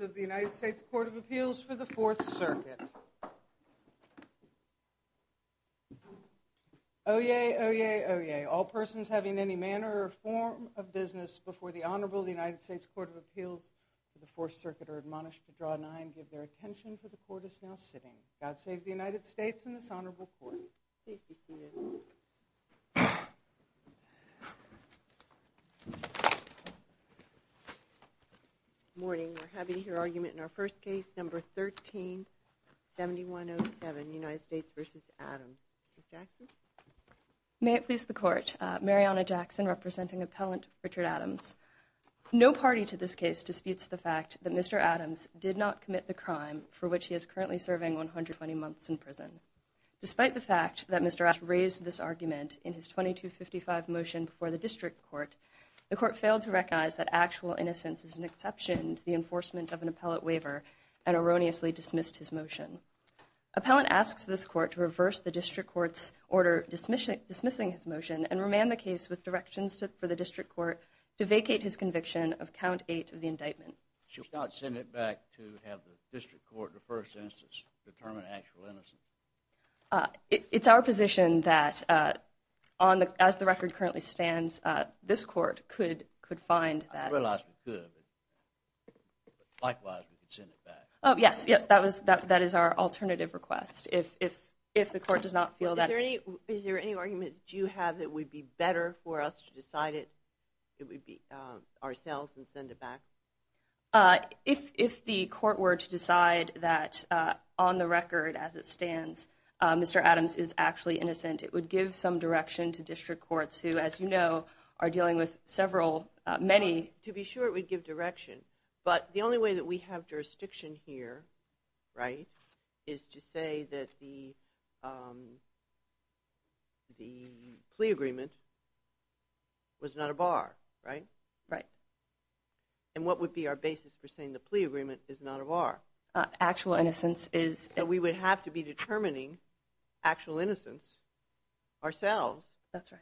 of the United States Court of Appeals for the Fourth Circuit. Oyez, oyez, oyez. All persons having any manner or form of business before the Honorable United States Court of Appeals for the Fourth Circuit are admonished to draw an eye and give their attention for the Court is now sitting. God save the United States and this Honorable Court. Please be seated. Good morning. We're having here argument in our first case, number 13-7107, United States v. Adams. Ms. Jackson? May it please the Court. Mariana Jackson representing Appellant Richard Adams. No party to this case disputes the fact that Mr. Adams did not commit the crime for which he is currently serving 120 months in prison. Despite the fact that Mr. Adams raised this argument in his 2255 motion before the District Court, the Court failed to recognize that actual innocence is an exception to the enforcement of an appellate waiver and erroneously dismissed his motion. Appellant asks this Court to reverse the District Court's order dismissing his motion and remand the case with directions for the District Court to vacate his conviction of count eight of the indictment. Should we not send it back to have the District Court in the first instance determine actual innocence? It's our position that as the record currently stands, this Court could find that. I realize we could, but likewise we could send it back. Yes, that is our alternative request. If the Court does not feel that. Is there any argument that you have that it would be better for us to decide it ourselves and send it back? If the Court were to decide that on the record as it stands, Mr. Adams is actually innocent, it would give some direction to District Courts who, as you know, are dealing with several, many. To be sure it would give direction. But the only way that we have jurisdiction here, right, is to say that the plea agreement was not a bar, right? Right. And what would be our basis for saying the plea agreement is not a bar? Actual innocence is. So we would have to be determining actual innocence ourselves. That's right.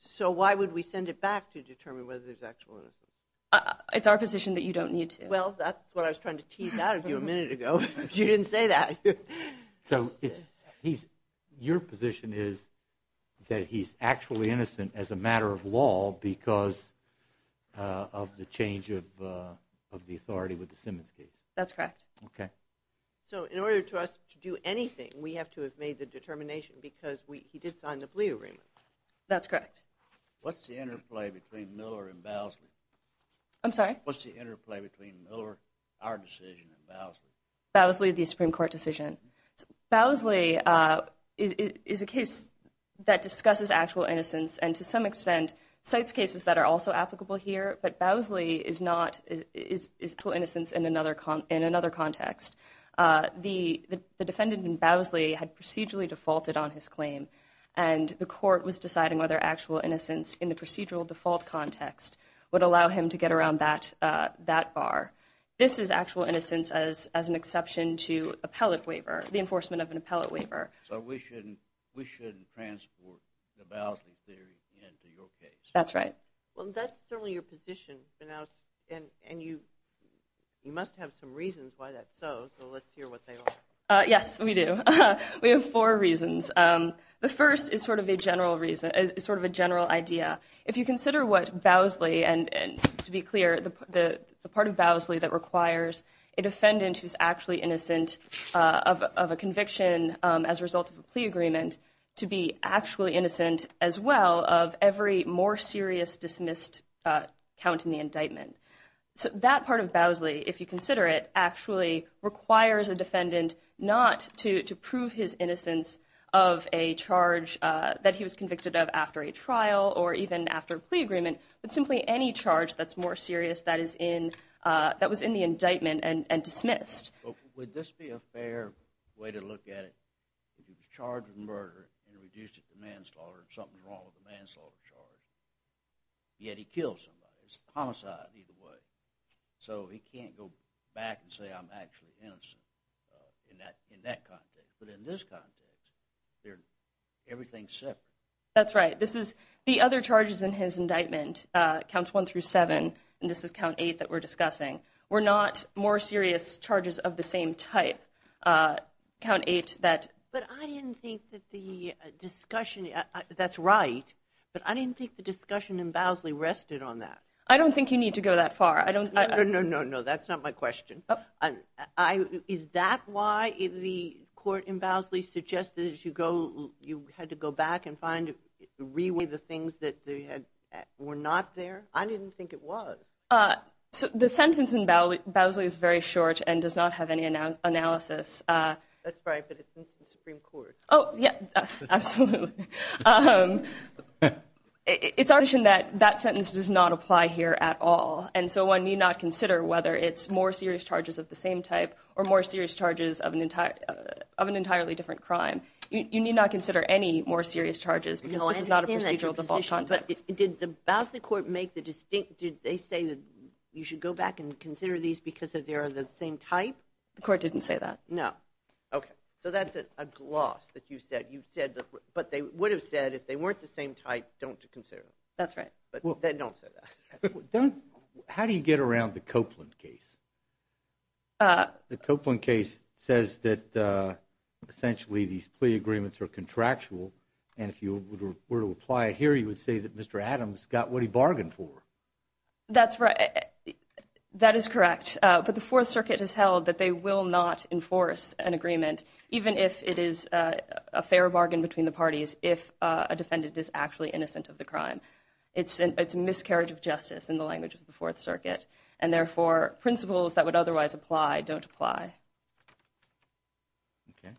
So why would we send it back to determine whether there's actual innocence? It's our position that you don't need to. Well, that's what I was trying to tease out of you a minute ago, but you didn't say that. So your position is that he's actually innocent as a matter of law because of the change of the authority with the Simmons case. That's correct. Okay. So in order for us to do anything, we have to have made the determination because he did sign the plea agreement. That's correct. What's the interplay between Miller and Bowsley? I'm sorry? What's the interplay between Miller, our decision, and Bowsley? Bowsley, the Supreme Court decision. Bowsley is a case that discusses actual innocence and to some extent cites cases that are also applicable here, but Bowsley is not, is actual innocence in another context. The defendant in Bowsley had procedurally defaulted on his claim, and the court was deciding whether actual innocence in the procedural default context would allow him to get around that bar. This is actual innocence as an exception to appellate waiver, the enforcement of an appellate waiver. So we shouldn't transport the Bowsley theory into your case. That's right. Well, that's certainly your position, and you must have some reasons why that's so, so let's hear what they are. Yes, we do. We have four reasons. The first is sort of a general idea. If you consider what Bowsley, and to be clear, the part of Bowsley that requires a defendant who's actually innocent of a conviction as a result of a plea agreement to be actually innocent as well of every more serious dismissed count in the indictment. So that part of Bowsley, if you consider it, actually requires a defendant not to prove his innocence of a charge that he was convicted of after a trial or even after a plea agreement, but simply any charge that's more serious that was in the indictment and dismissed. Would this be a fair way to look at it? If he was charged with murder and reduced it to manslaughter, something's wrong with the manslaughter charge, yet he killed somebody. It's a homicide either way. So he can't go back and say, I'm actually innocent in that context. But in this context, everything's separate. That's right. The other charges in his indictment, counts one through seven, and this is count eight that we're discussing, were not more serious charges of the same type, count eight that ---- But I didn't think that the discussion, that's right, but I didn't think the discussion in Bowsley rested on that. I don't think you need to go that far. No, no, no, no, that's not my question. Is that why the court in Bowsley suggested you had to go back and find, reweigh the things that were not there? I didn't think it was. The sentence in Bowsley is very short and does not have any analysis. That's right, but it's in the Supreme Court. Oh, yeah, absolutely. It's our position that that sentence does not apply here at all, and so one need not consider whether it's more serious charges of the same type or more serious charges of an entirely different crime. You need not consider any more serious charges because this is not a procedural default context. But did the Bowsley court make the distinct, did they say that you should go back and consider these because they are the same type? The court didn't say that. No. Okay. So that's a gloss that you said, but they would have said if they weren't the same type, don't consider them. That's right. Don't say that. How do you get around the Copeland case? The Copeland case says that essentially these plea agreements are contractual, and if you were to apply it here, you would say that Mr. Adams got what he bargained for. That's right. That is correct. But the Fourth Circuit has held that they will not enforce an agreement, even if it is a fair bargain between the parties if a defendant is actually innocent of the crime. It's a miscarriage of justice in the language of the Fourth Circuit, and therefore principles that would otherwise apply don't apply. Okay.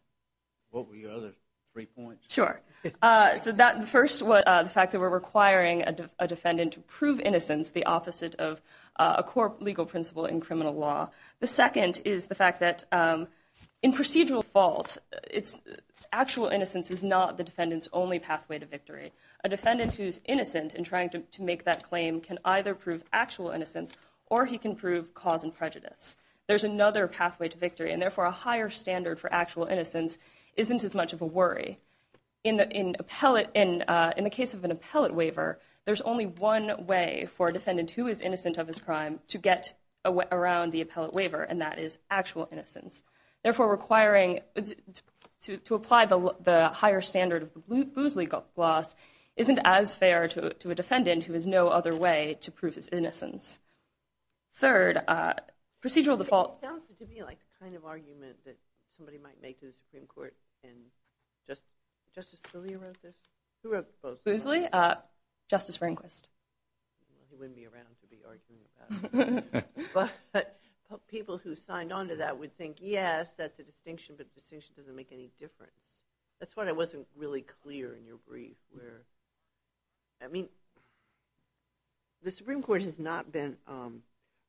What were your other three points? Sure. So first, the fact that we're requiring a defendant to prove innocence, the opposite of a core legal principle in criminal law. The second is the fact that in procedural fault, actual innocence is not the defendant's only pathway to victory. A defendant who is innocent in trying to make that claim can either prove actual innocence or he can prove cause and prejudice. There's another pathway to victory, and therefore a higher standard for actual innocence isn't as much of a worry. In the case of an appellate waiver, there's only one way for a defendant who is innocent of his crime to get around the appellate waiver, and that is actual innocence. Therefore, requiring to apply the higher standard of Boozley-Gloss isn't as fair to a defendant Third, procedural default. It sounds to me like the kind of argument that somebody might make to the Supreme Court and Justice Scalia wrote this? Who wrote Boozley? Justice Rehnquist. He wouldn't be around to be arguing with that. But people who signed on to that would think, yes, that's a distinction, but the distinction doesn't make any difference. That's why I wasn't really clear in your brief. I mean, the Supreme Court has not been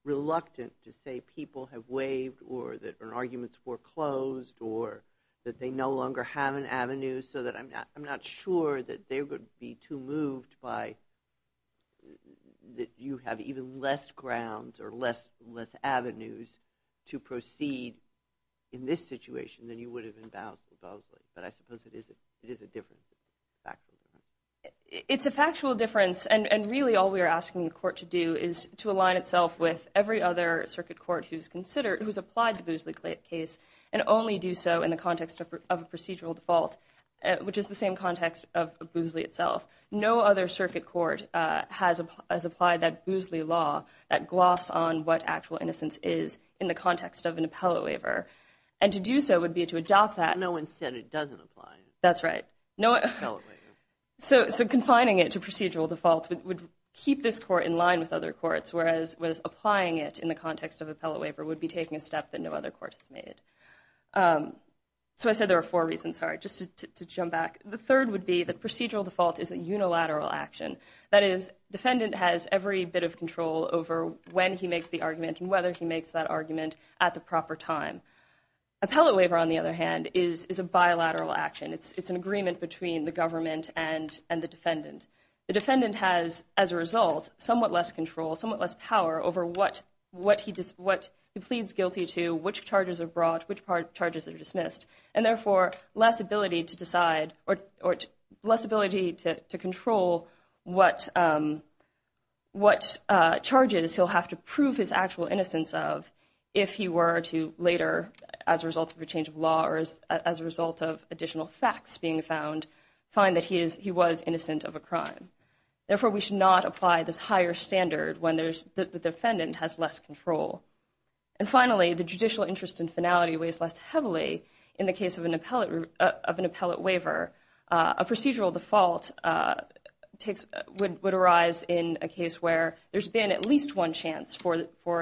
reluctant to say people have waived or that an argument's foreclosed or that they no longer have an avenue so that I'm not sure that they would be too moved by that you have even less grounds or less avenues to proceed in this situation than you would have in Boozley. But I suppose it is a difference. It's a factual difference, and really all we are asking the court to do is to align itself with every other circuit court who's applied to Boozley case and only do so in the context of a procedural default, which is the same context of Boozley itself. No other circuit court has applied that Boozley law, that gloss on what actual innocence is, in the context of an appellate waiver. And to do so would be to adopt that. But no one said it doesn't apply. That's right. So confining it to procedural default would keep this court in line with other courts, whereas applying it in the context of appellate waiver would be taking a step that no other court has made. So I said there were four reasons, sorry, just to jump back. The third would be that procedural default is a unilateral action. That is, defendant has every bit of control over when he makes the argument and whether he makes that argument at the proper time. Appellate waiver, on the other hand, is a bilateral action. It's an agreement between the government and the defendant. The defendant has, as a result, somewhat less control, somewhat less power over what he pleads guilty to, which charges are brought, which charges are dismissed, and therefore less ability to decide or less ability to control what charges he'll have to prove his actual innocence of a crime if he were to later, as a result of a change of law or as a result of additional facts being found, find that he was innocent of a crime. Therefore, we should not apply this higher standard when the defendant has less control. And finally, the judicial interest in finality weighs less heavily in the case of an appellate waiver. A procedural default would arise in a case where there's been at least one chance for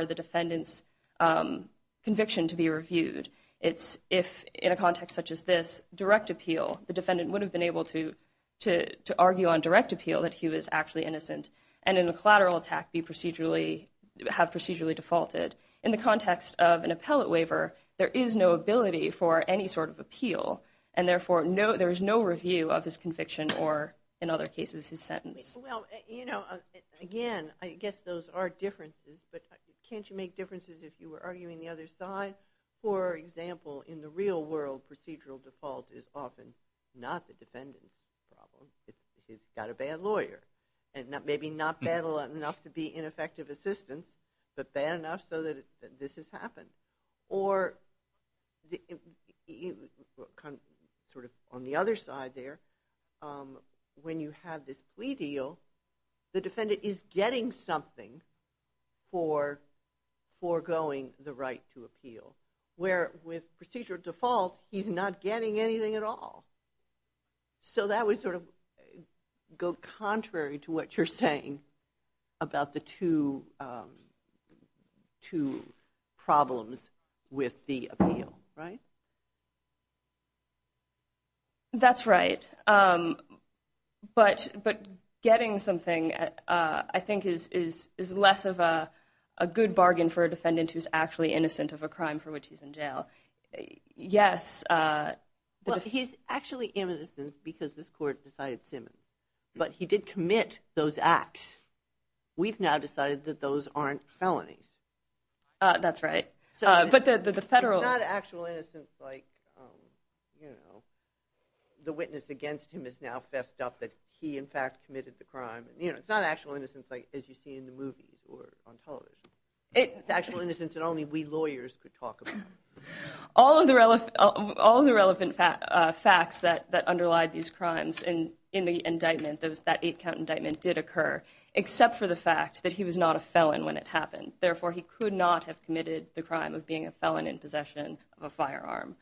the defendant's conviction to be reviewed. If, in a context such as this, direct appeal, the defendant would have been able to argue on direct appeal that he was actually innocent and in a collateral attack have procedurally defaulted. In the context of an appellate waiver, there is no ability for any sort of appeal, and therefore there is no review of his conviction or, in other cases, his sentence. Well, you know, again, I guess those are differences, but can't you make differences if you were arguing the other side? For example, in the real world, procedural default is often not the defendant's problem. He's got a bad lawyer, and maybe not bad enough to be ineffective assistance, but bad enough so that this has happened. Or on the other side there, when you have this plea deal, the defendant is getting something for foregoing the right to appeal, where with procedural default, he's not getting anything at all. So that would sort of go contrary to what you're saying about the two problems with the appeal, right? That's right. But getting something, I think, is less of a good bargain for a defendant who's actually innocent of a crime for which he's in jail. Yes. He's actually innocent because this court decided Simmons, but he did commit those acts. We've now decided that those aren't felonies. That's right. It's not actual innocence like, you know, the witness against him has now fessed up that he, in fact, committed the crime. It's not actual innocence like as you see in the movies or on television. It's actual innocence that only we lawyers could talk about. All of the relevant facts that underlie these crimes in the indictment, that eight-count indictment, did occur, except for the fact that he was not a felon when it happened. Therefore, he could not have committed the crime of being a felon in possession of a firearm.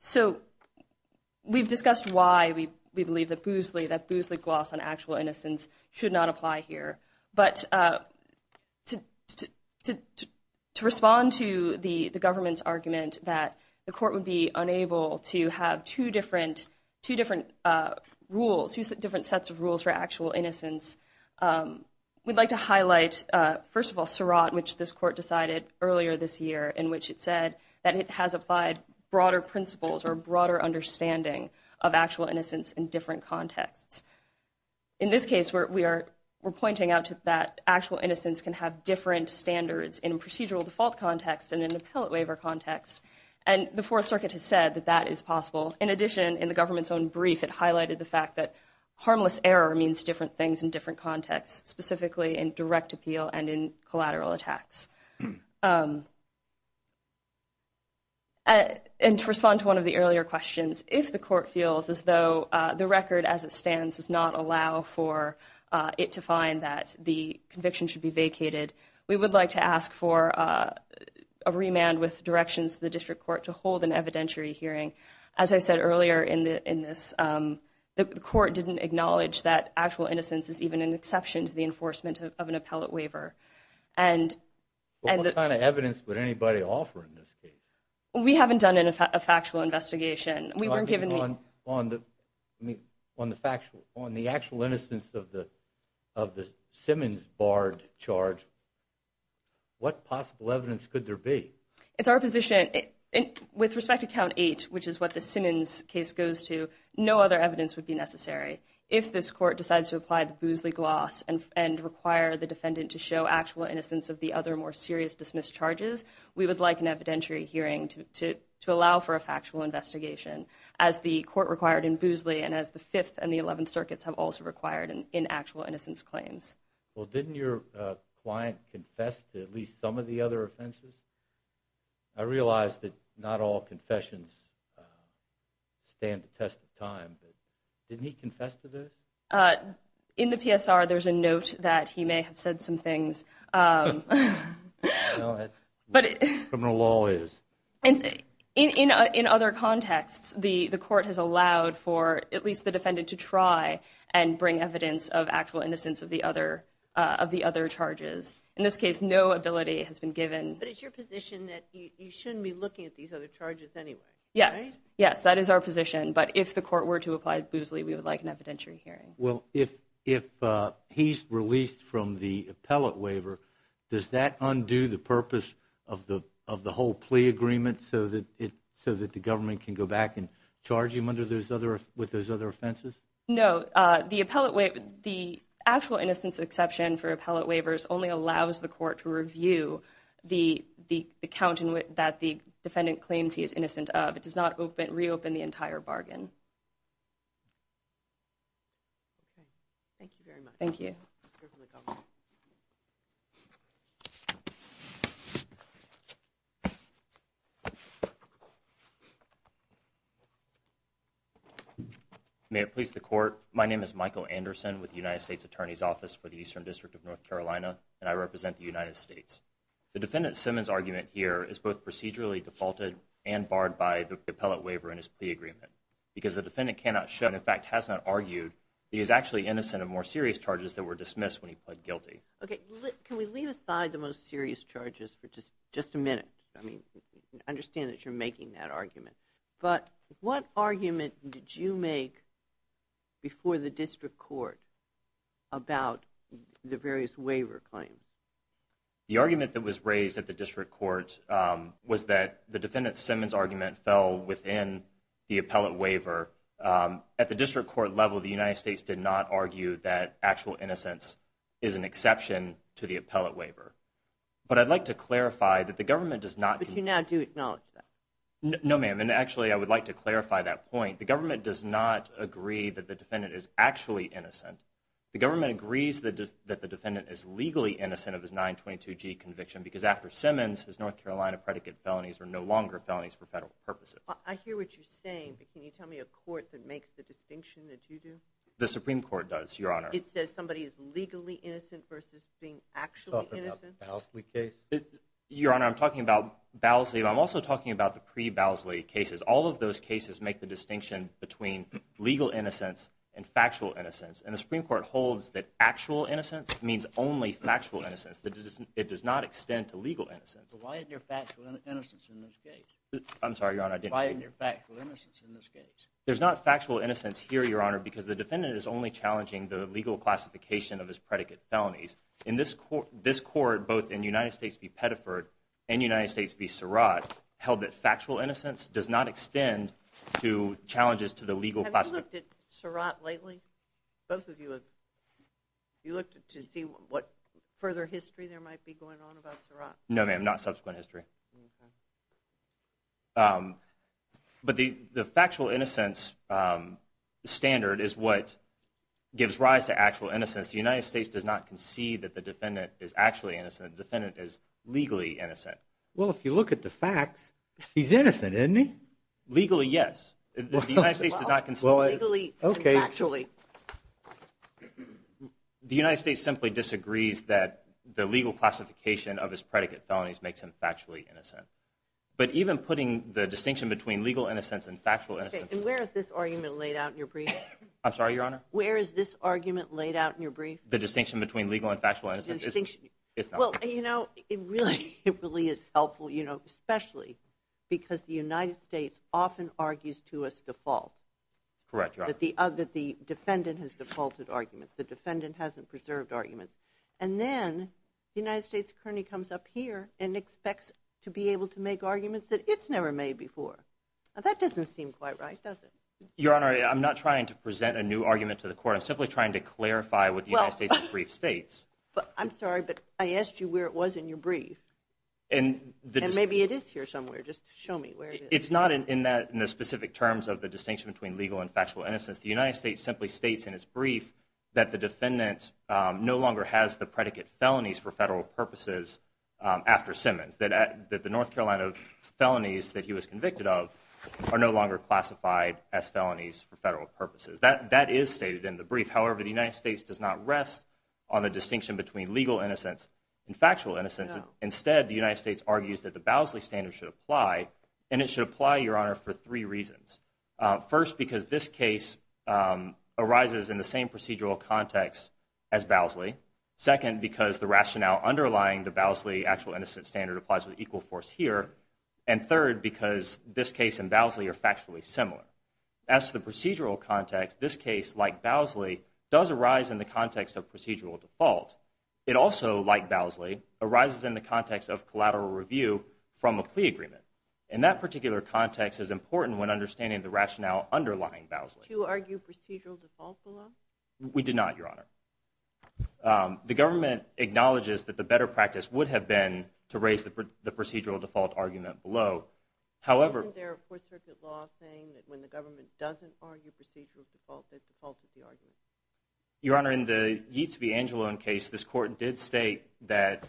So we've discussed why we believe that Boozley, that Boozley gloss on actual innocence, should not apply here. But to respond to the government's argument that the court would be unable to have two different rules, two different sets of rules for actual innocence, we'd like to highlight, first of all, earlier this year in which it said that it has applied broader principles or broader understanding of actual innocence in different contexts. In this case, we're pointing out that actual innocence can have different standards in procedural default context and in an appellate waiver context. And the Fourth Circuit has said that that is possible. In addition, in the government's own brief, it highlighted the fact that harmless error means different things in different contexts, specifically in direct appeal and in collateral attacks. And to respond to one of the earlier questions, if the court feels as though the record as it stands does not allow for it to find that the conviction should be vacated, we would like to ask for a remand with directions to the district court to hold an evidentiary hearing. As I said earlier in this, the court didn't acknowledge that actual innocence is even an exception to the enforcement of an appellate waiver. What kind of evidence would anybody offer in this case? We haven't done a factual investigation. On the actual innocence of the Simmons-Bard charge, what possible evidence could there be? It's our position, with respect to Count 8, which is what the Simmons case goes to, no other evidence would be necessary. If this court decides to apply the Boozley gloss and require the defendant to show actual innocence of the other more serious dismissed charges, we would like an evidentiary hearing to allow for a factual investigation, as the court required in Boozley and as the Fifth and the Eleventh Circuits have also required in actual innocence claims. Well, didn't your client confess to at least some of the other offenses? I realize that not all confessions stand the test of time, but didn't he confess to those? In the PSR, there's a note that he may have said some things. That's what criminal law is. In other contexts, the court has allowed for at least the defendant to try and bring evidence of actual innocence of the other charges. In this case, no ability has been given. But it's your position that you shouldn't be looking at these other charges anyway, right? Yes, that is our position, but if the court were to apply Boozley, we would like an evidentiary hearing. Well, if he's released from the appellate waiver, does that undo the purpose of the whole plea agreement, so that the government can go back and charge him with those other offenses? No. The actual innocence exception for appellate waivers only allows the court to review the account that the defendant claims he is innocent of. It does not reopen the entire bargain. Thank you very much. Thank you. May it please the court, my name is Michael Anderson with the United States Attorney's Office for the Eastern District of North Carolina, and I represent the United States. The defendant Simmons' argument here is both procedurally defaulted and barred by the appellate waiver in his plea agreement, because the defendant cannot show and in fact has not argued that he is actually innocent of more serious charges that were dismissed when he pled guilty. Okay, can we leave aside the most serious charges for just a minute? I mean, I understand that you're making that argument, but what argument did you make before the district court about the various waiver claims? The argument that was raised at the district court was that the defendant Simmons' argument fell within the appellate waiver. At the district court level, the United States did not argue that actual innocence is an exception to the appellate waiver. But I'd like to clarify that the government does not… But you now do acknowledge that. No, ma'am, and actually I would like to clarify that point. The government does not agree that the defendant is actually innocent. The government agrees that the defendant is legally innocent of his 922G conviction, because after Simmons, his North Carolina predicate felonies were no longer felonies for federal purposes. I hear what you're saying, but can you tell me a court that makes the distinction that you do? The Supreme Court does, Your Honor. It says somebody is legally innocent versus being actually innocent? You're talking about the Bowsley case? Your Honor, I'm talking about Bowsley, but I'm also talking about the pre-Bowsley cases. All of those cases make the distinction between legal innocence and factual innocence, and the Supreme Court holds that actual innocence means only factual innocence. It does not extend to legal innocence. But why isn't there factual innocence in this case? I'm sorry, Your Honor, I didn't hear you. Why isn't there factual innocence in this case? There's not factual innocence here, Your Honor, because the defendant is only challenging the legal classification of his predicate felonies. In this court, both in United States v. Pettiford and United States v. Surratt, held that factual innocence does not extend to challenges to the legal classification. Have you looked at Surratt lately? Both of you have. You looked to see what further history there might be going on about Surratt? No, ma'am, not subsequent history. But the factual innocence standard is what gives rise to actual innocence. The United States does not concede that the defendant is actually innocent. The defendant is legally innocent. Well, if you look at the facts, he's innocent, isn't he? Legally, yes. The United States does not concede. Well, legally and factually. The United States simply disagrees that the legal classification of his predicate felonies makes him factually innocent. But even putting the distinction between legal innocence and factual innocence... Okay, and where is this argument laid out in your brief? I'm sorry, Your Honor? Where is this argument laid out in your brief? The distinction between legal and factual innocence. The distinction. It's not. Well, you know, it really is helpful, you know, especially because the United States often argues to us default. Correct, Your Honor. That the defendant has defaulted arguments. The defendant hasn't preserved arguments. And then the United States currently comes up here and expects to be able to make arguments that it's never made before. Now, that doesn't seem quite right, does it? Your Honor, I'm not trying to present a new argument to the court. I'm simply trying to clarify what the United States' brief states. I'm sorry, but I asked you where it was in your brief. And maybe it is here somewhere. Just show me where it is. It's not in the specific terms of the distinction between legal and factual innocence. The United States simply states in its brief that the defendant no longer has the predicate felonies for federal purposes after Simmons. That the North Carolina felonies that he was convicted of are no longer classified as felonies for federal purposes. That is stated in the brief. However, the United States does not rest on the distinction between legal innocence and factual innocence. Instead, the United States argues that the Bowsley standard should apply. And it should apply, Your Honor, for three reasons. First, because this case arises in the same procedural context as Bowsley. Second, because the rationale underlying the Bowsley actual innocence standard applies with equal force here. And third, because this case and Bowsley are factually similar. As to the procedural context, this case, like Bowsley, does arise in the context of procedural default. It also, like Bowsley, arises in the context of collateral review from a plea agreement. And that particular context is important when understanding the rationale underlying Bowsley. Did you argue procedural default below? We did not, Your Honor. The government acknowledges that the better practice would have been to raise the procedural default argument below. Isn't there a Fourth Circuit law saying that when the government doesn't argue procedural default, they default at the argument? Your Honor, in the Yeats v. Angelo case, this court did state that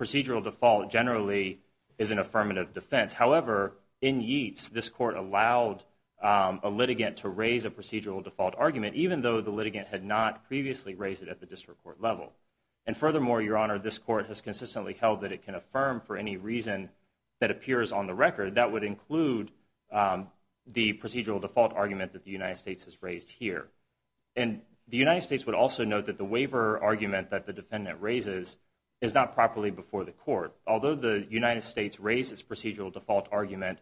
procedural default generally is an affirmative defense. However, in Yeats, this court allowed a litigant to raise a procedural default argument, even though the litigant had not previously raised it at the district court level. And furthermore, Your Honor, this court has consistently held that it can affirm for any reason that appears on the record. That would include the procedural default argument that the United States has raised here. And the United States would also note that the waiver argument that the defendant raises is not properly before the court. Although the United States raised its procedural default argument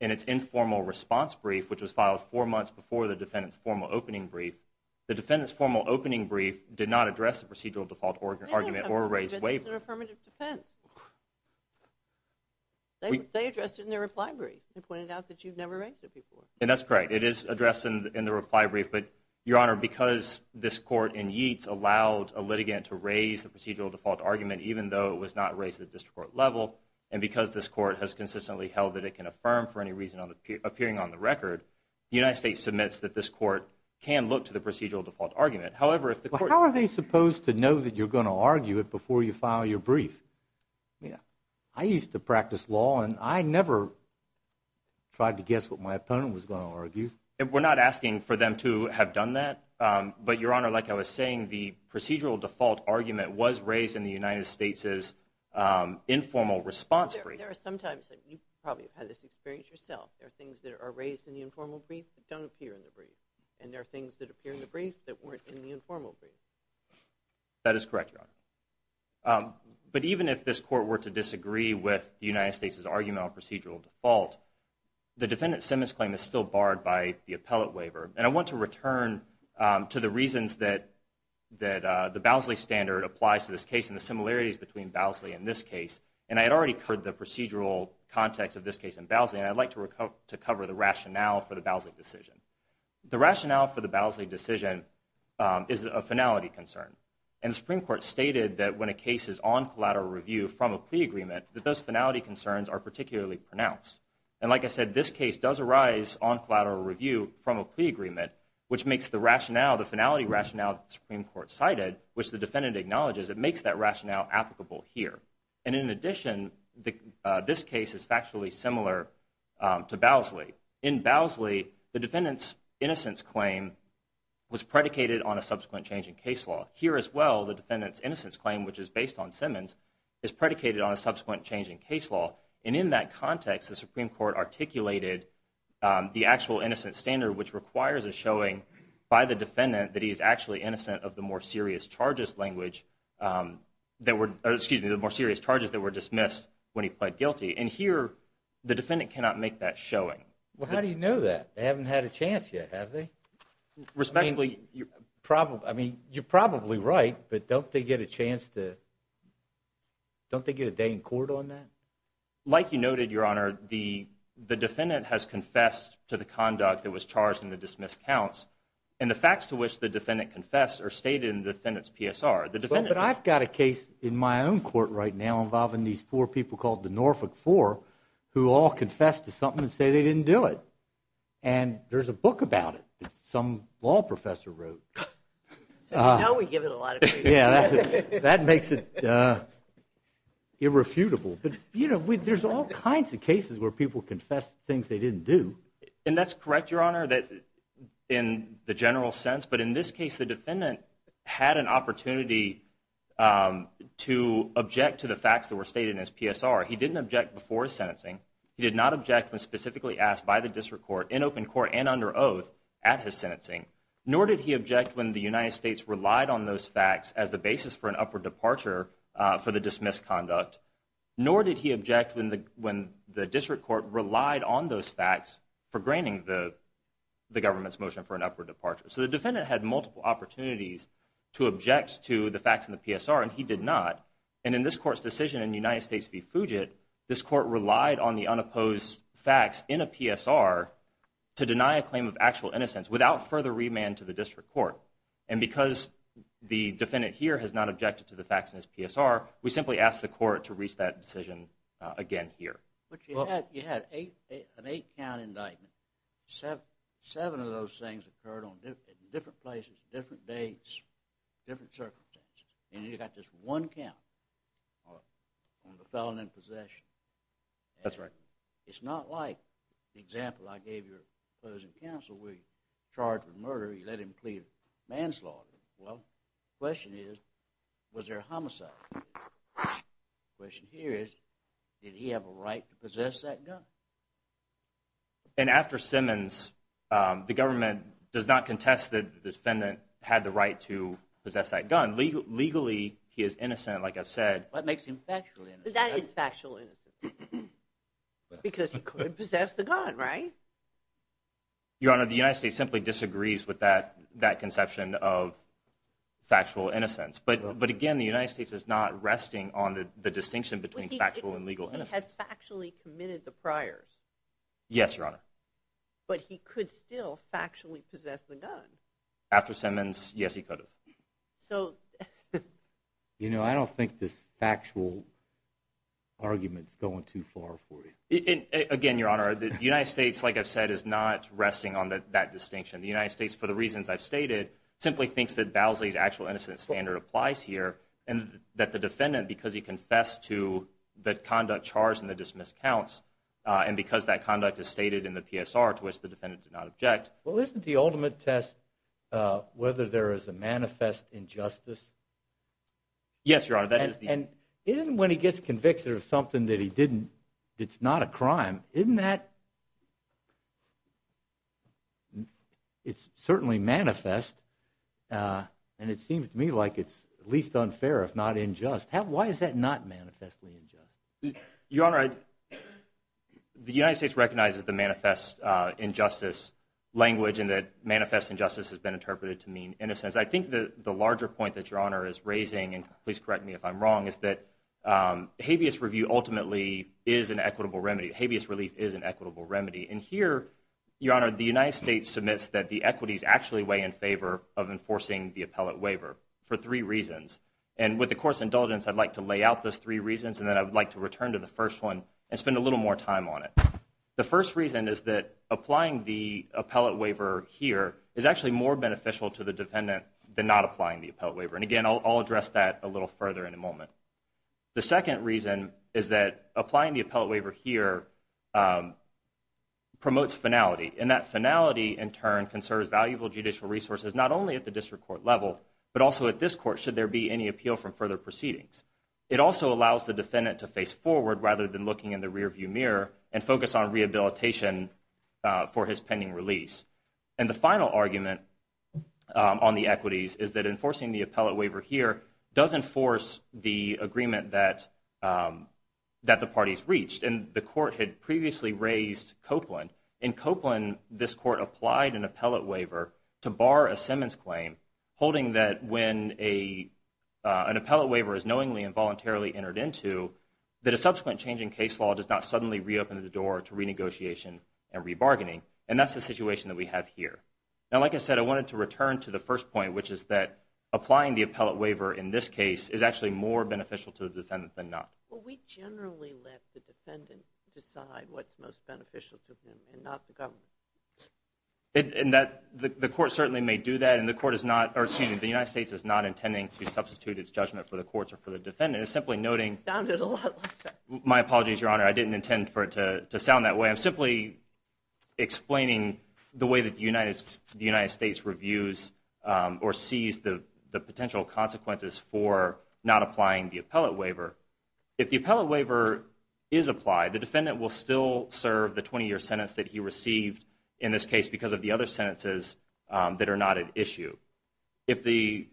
in its informal response brief, which was filed four months before the defendant's formal opening brief, the defendant's formal opening brief did not address the procedural default argument or raise waivers. It's an affirmative defense. They addressed it in their reply brief. They pointed out that you've never raised it before. And that's correct. It is addressed in the reply brief. But, Your Honor, because this court in Yeats allowed a litigant to raise the procedural default argument, even though it was not raised at the district court level, and because this court has consistently held that it can affirm for any reason appearing on the record, the United States submits that this court can look to the procedural default argument. However, if the court – How are they supposed to know that you're going to argue it before you file your brief? I used to practice law, and I never tried to guess what my opponent was going to argue. We're not asking for them to have done that. But, Your Honor, like I was saying, the procedural default argument was raised in the United States' informal response brief. There are some times that you probably have had this experience yourself. There are things that are raised in the informal brief that don't appear in the brief, and there are things that appear in the brief that weren't in the informal brief. That is correct, Your Honor. But even if this court were to disagree with the United States' argument on procedural default, the defendant's sentence claim is still barred by the appellate waiver. And I want to return to the reasons that the Bousley standard applies to this case and the similarities between Bousley and this case. And I had already covered the procedural context of this case in Bousley, and I'd like to cover the rationale for the Bousley decision. The rationale for the Bousley decision is a finality concern. And the Supreme Court stated that when a case is on collateral review from a plea agreement, that those finality concerns are particularly pronounced. And like I said, this case does arise on collateral review from a plea agreement, which makes the rationale, the finality rationale that the Supreme Court cited, which the defendant acknowledges, it makes that rationale applicable here. And in addition, this case is factually similar to Bousley. In Bousley, the defendant's innocence claim was predicated on a subsequent change in case law. Here as well, the defendant's innocence claim, which is based on Simmons, is predicated on a subsequent change in case law. And in that context, the Supreme Court articulated the actual innocent standard, which requires a showing by the defendant that he's actually innocent of the more serious charges language that were dismissed when he pled guilty. And here, the defendant cannot make that showing. Well, how do you know that? They haven't had a chance yet, have they? I mean, you're probably right, but don't they get a chance to, don't they get a day in court on that? Like you noted, Your Honor, the defendant has confessed to the conduct that was charged in the dismissed counts. And the facts to which the defendant confessed are stated in the defendant's PSR. But I've got a case in my own court right now involving these four people called the Norfolk Four who all confessed to something and say they didn't do it. And there's a book about it that some law professor wrote. So now we give it a lot of credit. Yeah, that makes it irrefutable. But, you know, there's all kinds of cases where people confess things they didn't do. And that's correct, Your Honor, in the general sense. But in this case, the defendant had an opportunity to object to the facts that were stated in his PSR. He didn't object before his sentencing. He did not object when specifically asked by the district court in open court and under oath at his sentencing. Nor did he object when the United States relied on those facts as the basis for an upward departure for the dismissed conduct. Nor did he object when the district court relied on those facts for granting the government's motion for an upward departure. So the defendant had multiple opportunities to object to the facts in the PSR, and he did not. And in this court's decision in United States v. Fugit, this court relied on the unopposed facts in a PSR to deny a claim of actual innocence without further remand to the district court. And because the defendant here has not objected to the facts in his PSR, we simply asked the court to reach that decision again here. But you had an eight-count indictment. Seven of those things occurred in different places, different dates, different circumstances. And you got just one count on the felon in possession. That's right. It's not like the example I gave your closing counsel where he was charged with murder. He let him plead manslaughter. Well, the question is, was there a homicide? The question here is, did he have a right to possess that gun? And after Simmons, the government does not contest that the defendant had the right to possess that gun. Legally, he is innocent, like I've said. That makes him factually innocent. That is factually innocent because he could have possessed the gun, right? Your Honor, the United States simply disagrees with that conception of factual innocence. But, again, the United States is not resting on the distinction between factual and legal innocence. He had factually committed the priors. Yes, Your Honor. But he could still factually possess the gun. After Simmons, yes, he could have. You know, I don't think this factual argument is going too far for you. Again, Your Honor, the United States, like I've said, is not resting on that distinction. The United States, for the reasons I've stated, simply thinks that Bowsley's actual innocent standard applies here and that the defendant, because he confessed to the conduct charged in the dismissed counts and because that conduct is stated in the PSR to which the defendant did not object. Well, isn't the ultimate test whether there is a manifest injustice? Yes, Your Honor. And isn't when he gets convicted of something that he didn't, it's not a crime, isn't that? It's certainly manifest, and it seems to me like it's at least unfair if not unjust. Why is that not manifestly unjust? Your Honor, the United States recognizes the manifest injustice language and that manifest injustice has been interpreted to mean innocence. I think the larger point that Your Honor is raising, and please correct me if I'm wrong, is that habeas review ultimately is an equitable remedy. Habeas relief is an equitable remedy. And here, Your Honor, the United States submits that the equities actually weigh in favor of enforcing the appellate waiver for three reasons, and with the Court's indulgence, I'd like to lay out those three reasons and then I would like to return to the first one and spend a little more time on it. The first reason is that applying the appellate waiver here is actually more beneficial to the defendant than not applying the appellate waiver. And again, I'll address that a little further in a moment. The second reason is that applying the appellate waiver here promotes finality, and that finality in turn conserves valuable judicial resources not only at the district court level, but also at this court should there be any appeal from further proceedings. It also allows the defendant to face forward rather than looking in the rearview mirror and focus on rehabilitation for his pending release. And the final argument on the equities is that enforcing the appellate waiver here does enforce the agreement that the parties reached. And the Court had previously raised Copeland. In Copeland, this Court applied an appellate waiver to bar a Simmons claim, holding that when an appellate waiver is knowingly and voluntarily entered into, that a subsequent change in case law does not suddenly reopen the door to renegotiation and rebargaining, and that's the situation that we have here. Now, like I said, I wanted to return to the first point, which is that applying the appellate waiver in this case is actually more beneficial to the defendant than not. Well, we generally let the defendant decide what's most beneficial to him and not the government. And the Court certainly may do that. And the United States is not intending to substitute its judgment for the courts or for the defendant. It's simply noting my apologies, Your Honor, I didn't intend for it to sound that way. I'm simply explaining the way that the United States reviews or sees the potential consequences for not applying the appellate waiver. If the appellate waiver is applied, the defendant will still serve the 20-year sentence that he received in this case because of the other sentences that are not at issue. If the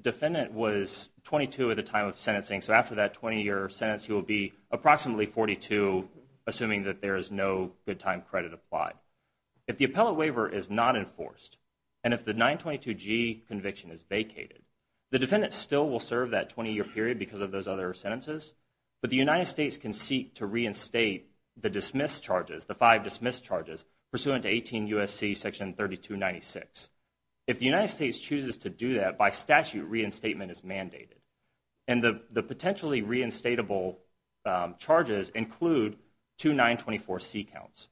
defendant was 22 at the time of sentencing, so after that 20-year sentence, he will be approximately 42, assuming that there is no good time credit applied. If the appellate waiver is not enforced, and if the 922G conviction is vacated, the defendant still will serve that 20-year period because of those other sentences, but the United States can seek to reinstate the dismissed charges, the five dismissed charges pursuant to 18 U.S.C. section 3296. If the United States chooses to do that, by statute reinstatement is mandated. And the potentially reinstatable charges include two 924C counts.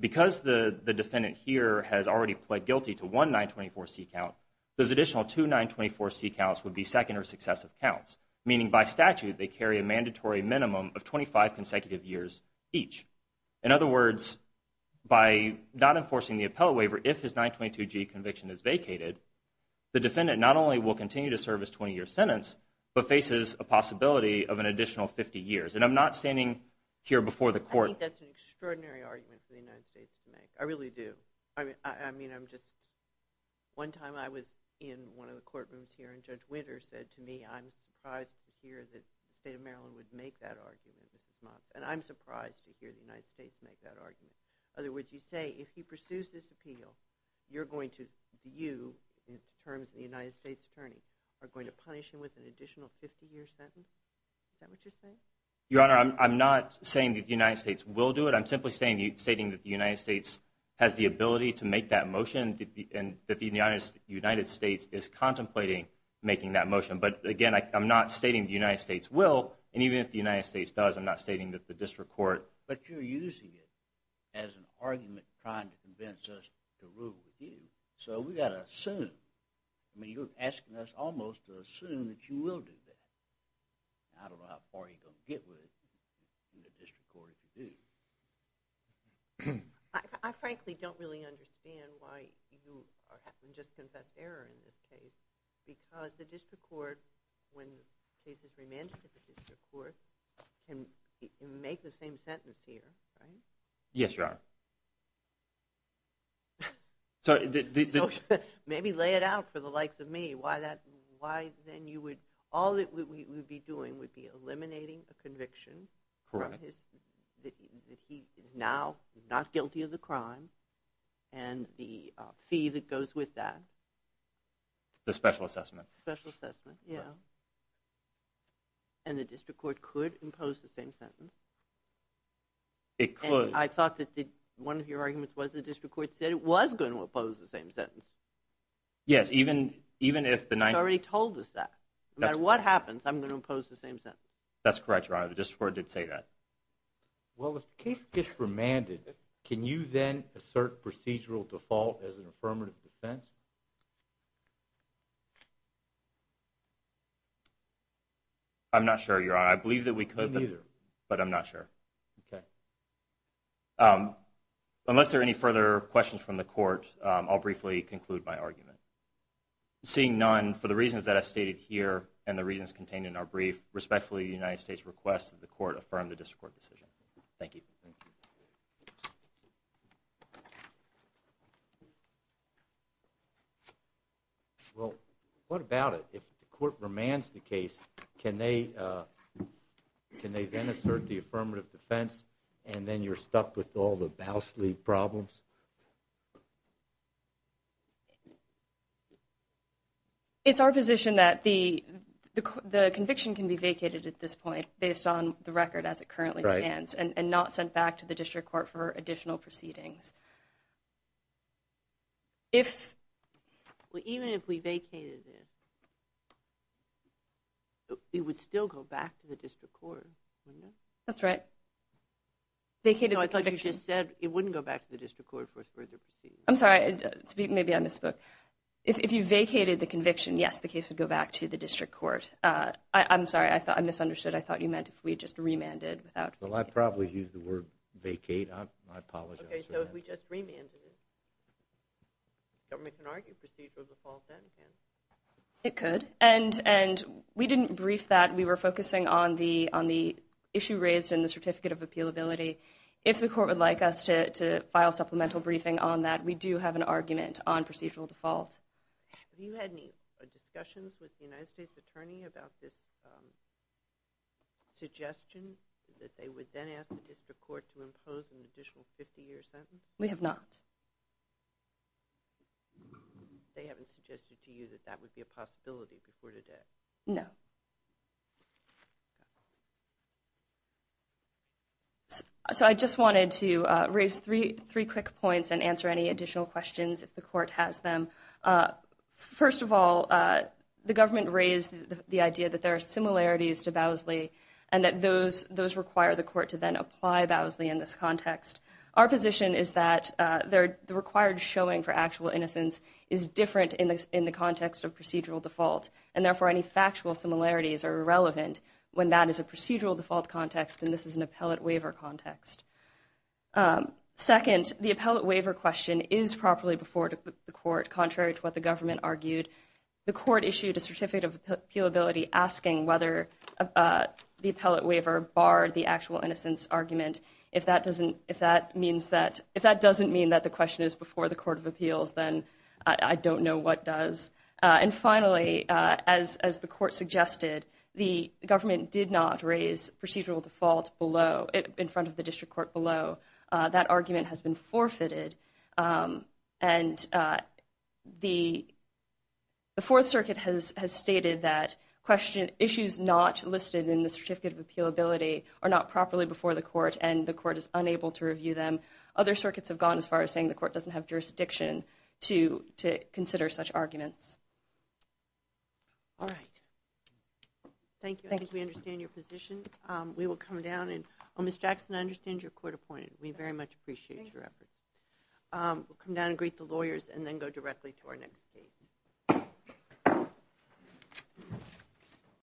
Because the defendant here has already pled guilty to one 924C count, those additional two 924C counts would be second or successive counts, meaning by statute they carry a mandatory minimum of 25 consecutive years each. In other words, by not enforcing the appellate waiver, if his 922G conviction is vacated, the defendant not only will continue to serve his 20-year sentence, but faces a possibility of an additional 50 years. And I'm not standing here before the court. I think that's an extraordinary argument for the United States to make. I really do. I mean, I'm just, one time I was in one of the courtrooms here, and Judge Winter said to me, I'm surprised to hear that the state of Maryland would make that argument. And I'm surprised to hear the United States make that argument. In other words, you say if he pursues this appeal, you're going to, you, in terms of the United States attorney, are going to punish him with an additional 50-year sentence? Is that what you're saying? Your Honor, I'm not saying that the United States will do it. I'm simply stating that the United States has the ability to make that motion and that the United States is contemplating making that motion. But, again, I'm not stating the United States will. And even if the United States does, I'm not stating that the district court. But you're using it as an argument trying to convince us to rule with you. So we've got to assume. I mean, you're asking us almost to assume that you will do that. I don't know how far you're going to get with it from the district court if you do. I frankly don't really understand why you just confessed error in this case because the district court, when the case is remanded to the district court, can make the same sentence here, right? Yes, Your Honor. So maybe lay it out for the likes of me why then you would, all that we would be doing would be eliminating a conviction. Correct. That he is now not guilty of the crime and the fee that goes with that. The special assessment. Special assessment, yeah. And the district court could impose the same sentence. It could. And I thought that one of your arguments was the district court said it was going to impose the same sentence. Yes, even if the 9th. You've already told us that. No matter what happens, I'm going to impose the same sentence. That's correct, Your Honor. The district court did say that. Well, if the case gets remanded, can you then assert procedural default as an affirmative defense? I'm not sure, Your Honor. I believe that we could. Me neither. But I'm not sure. Okay. Unless there are any further questions from the court, I'll briefly conclude my argument. Seeing none, for the reasons that I've stated here and the reasons contained in our brief, respectfully, the United States requests that the court affirm the district court decision. Thank you. Thank you. Well, what about it? If the court remands the case, can they then assert the affirmative defense and then you're stuck with all the Bousley problems? It's our position that the conviction can be vacated at this point based on the record as it currently stands and not sent back to the district court for additional proceedings. Even if we vacated it, it would still go back to the district court, wouldn't it? That's right. No, I thought you just said it wouldn't go back to the district court for further proceedings. I'm sorry. Maybe I misspoke. If you vacated the conviction, yes, the case would go back to the district court. I'm sorry. I misunderstood. I thought you meant if we just remanded without vacating. Well, I probably used the word vacate. I apologize for that. Okay. So if we just remanded it, government can argue procedural default then, can't it? It could. We didn't brief that. We were focusing on the issue raised in the certificate of appealability. If the court would like us to file supplemental briefing on that, we do have an argument on procedural default. Have you had any discussions with the United States Attorney about this suggestion that they would then ask the district court to impose an additional 50-year sentence? We have not. They haven't suggested to you that that would be a possibility before today? No. So I just wanted to raise three quick points and answer any additional questions if the court has them. First of all, the government raised the idea that there are similarities to Bowsley and that those require the court to then apply Bowsley in this context. Our position is that the required showing for actual innocence is different in the context of procedural default, and therefore any factual similarities are irrelevant when that is a procedural default context and this is an appellate waiver context. Second, the appellate waiver question is properly before the court, contrary to what the government argued. The court issued a certificate of appealability asking whether the appellate waiver barred the actual innocence argument. If that doesn't mean that the question is before the court of appeals, then I don't know what does. And finally, as the court suggested, the government did not raise procedural default in front of the district court below. That argument has been forfeited, and the Fourth Circuit has stated that issues not listed in the certificate of appealability are not properly before the court and the court is unable to review them. Other circuits have gone as far as saying the court doesn't have jurisdiction to consider such arguments. All right. Thank you. I think we understand your position. We will come down and Ms. Jackson, I understand you're court appointed. We very much appreciate your effort. We'll come down and greet the lawyers and then go directly to our next case.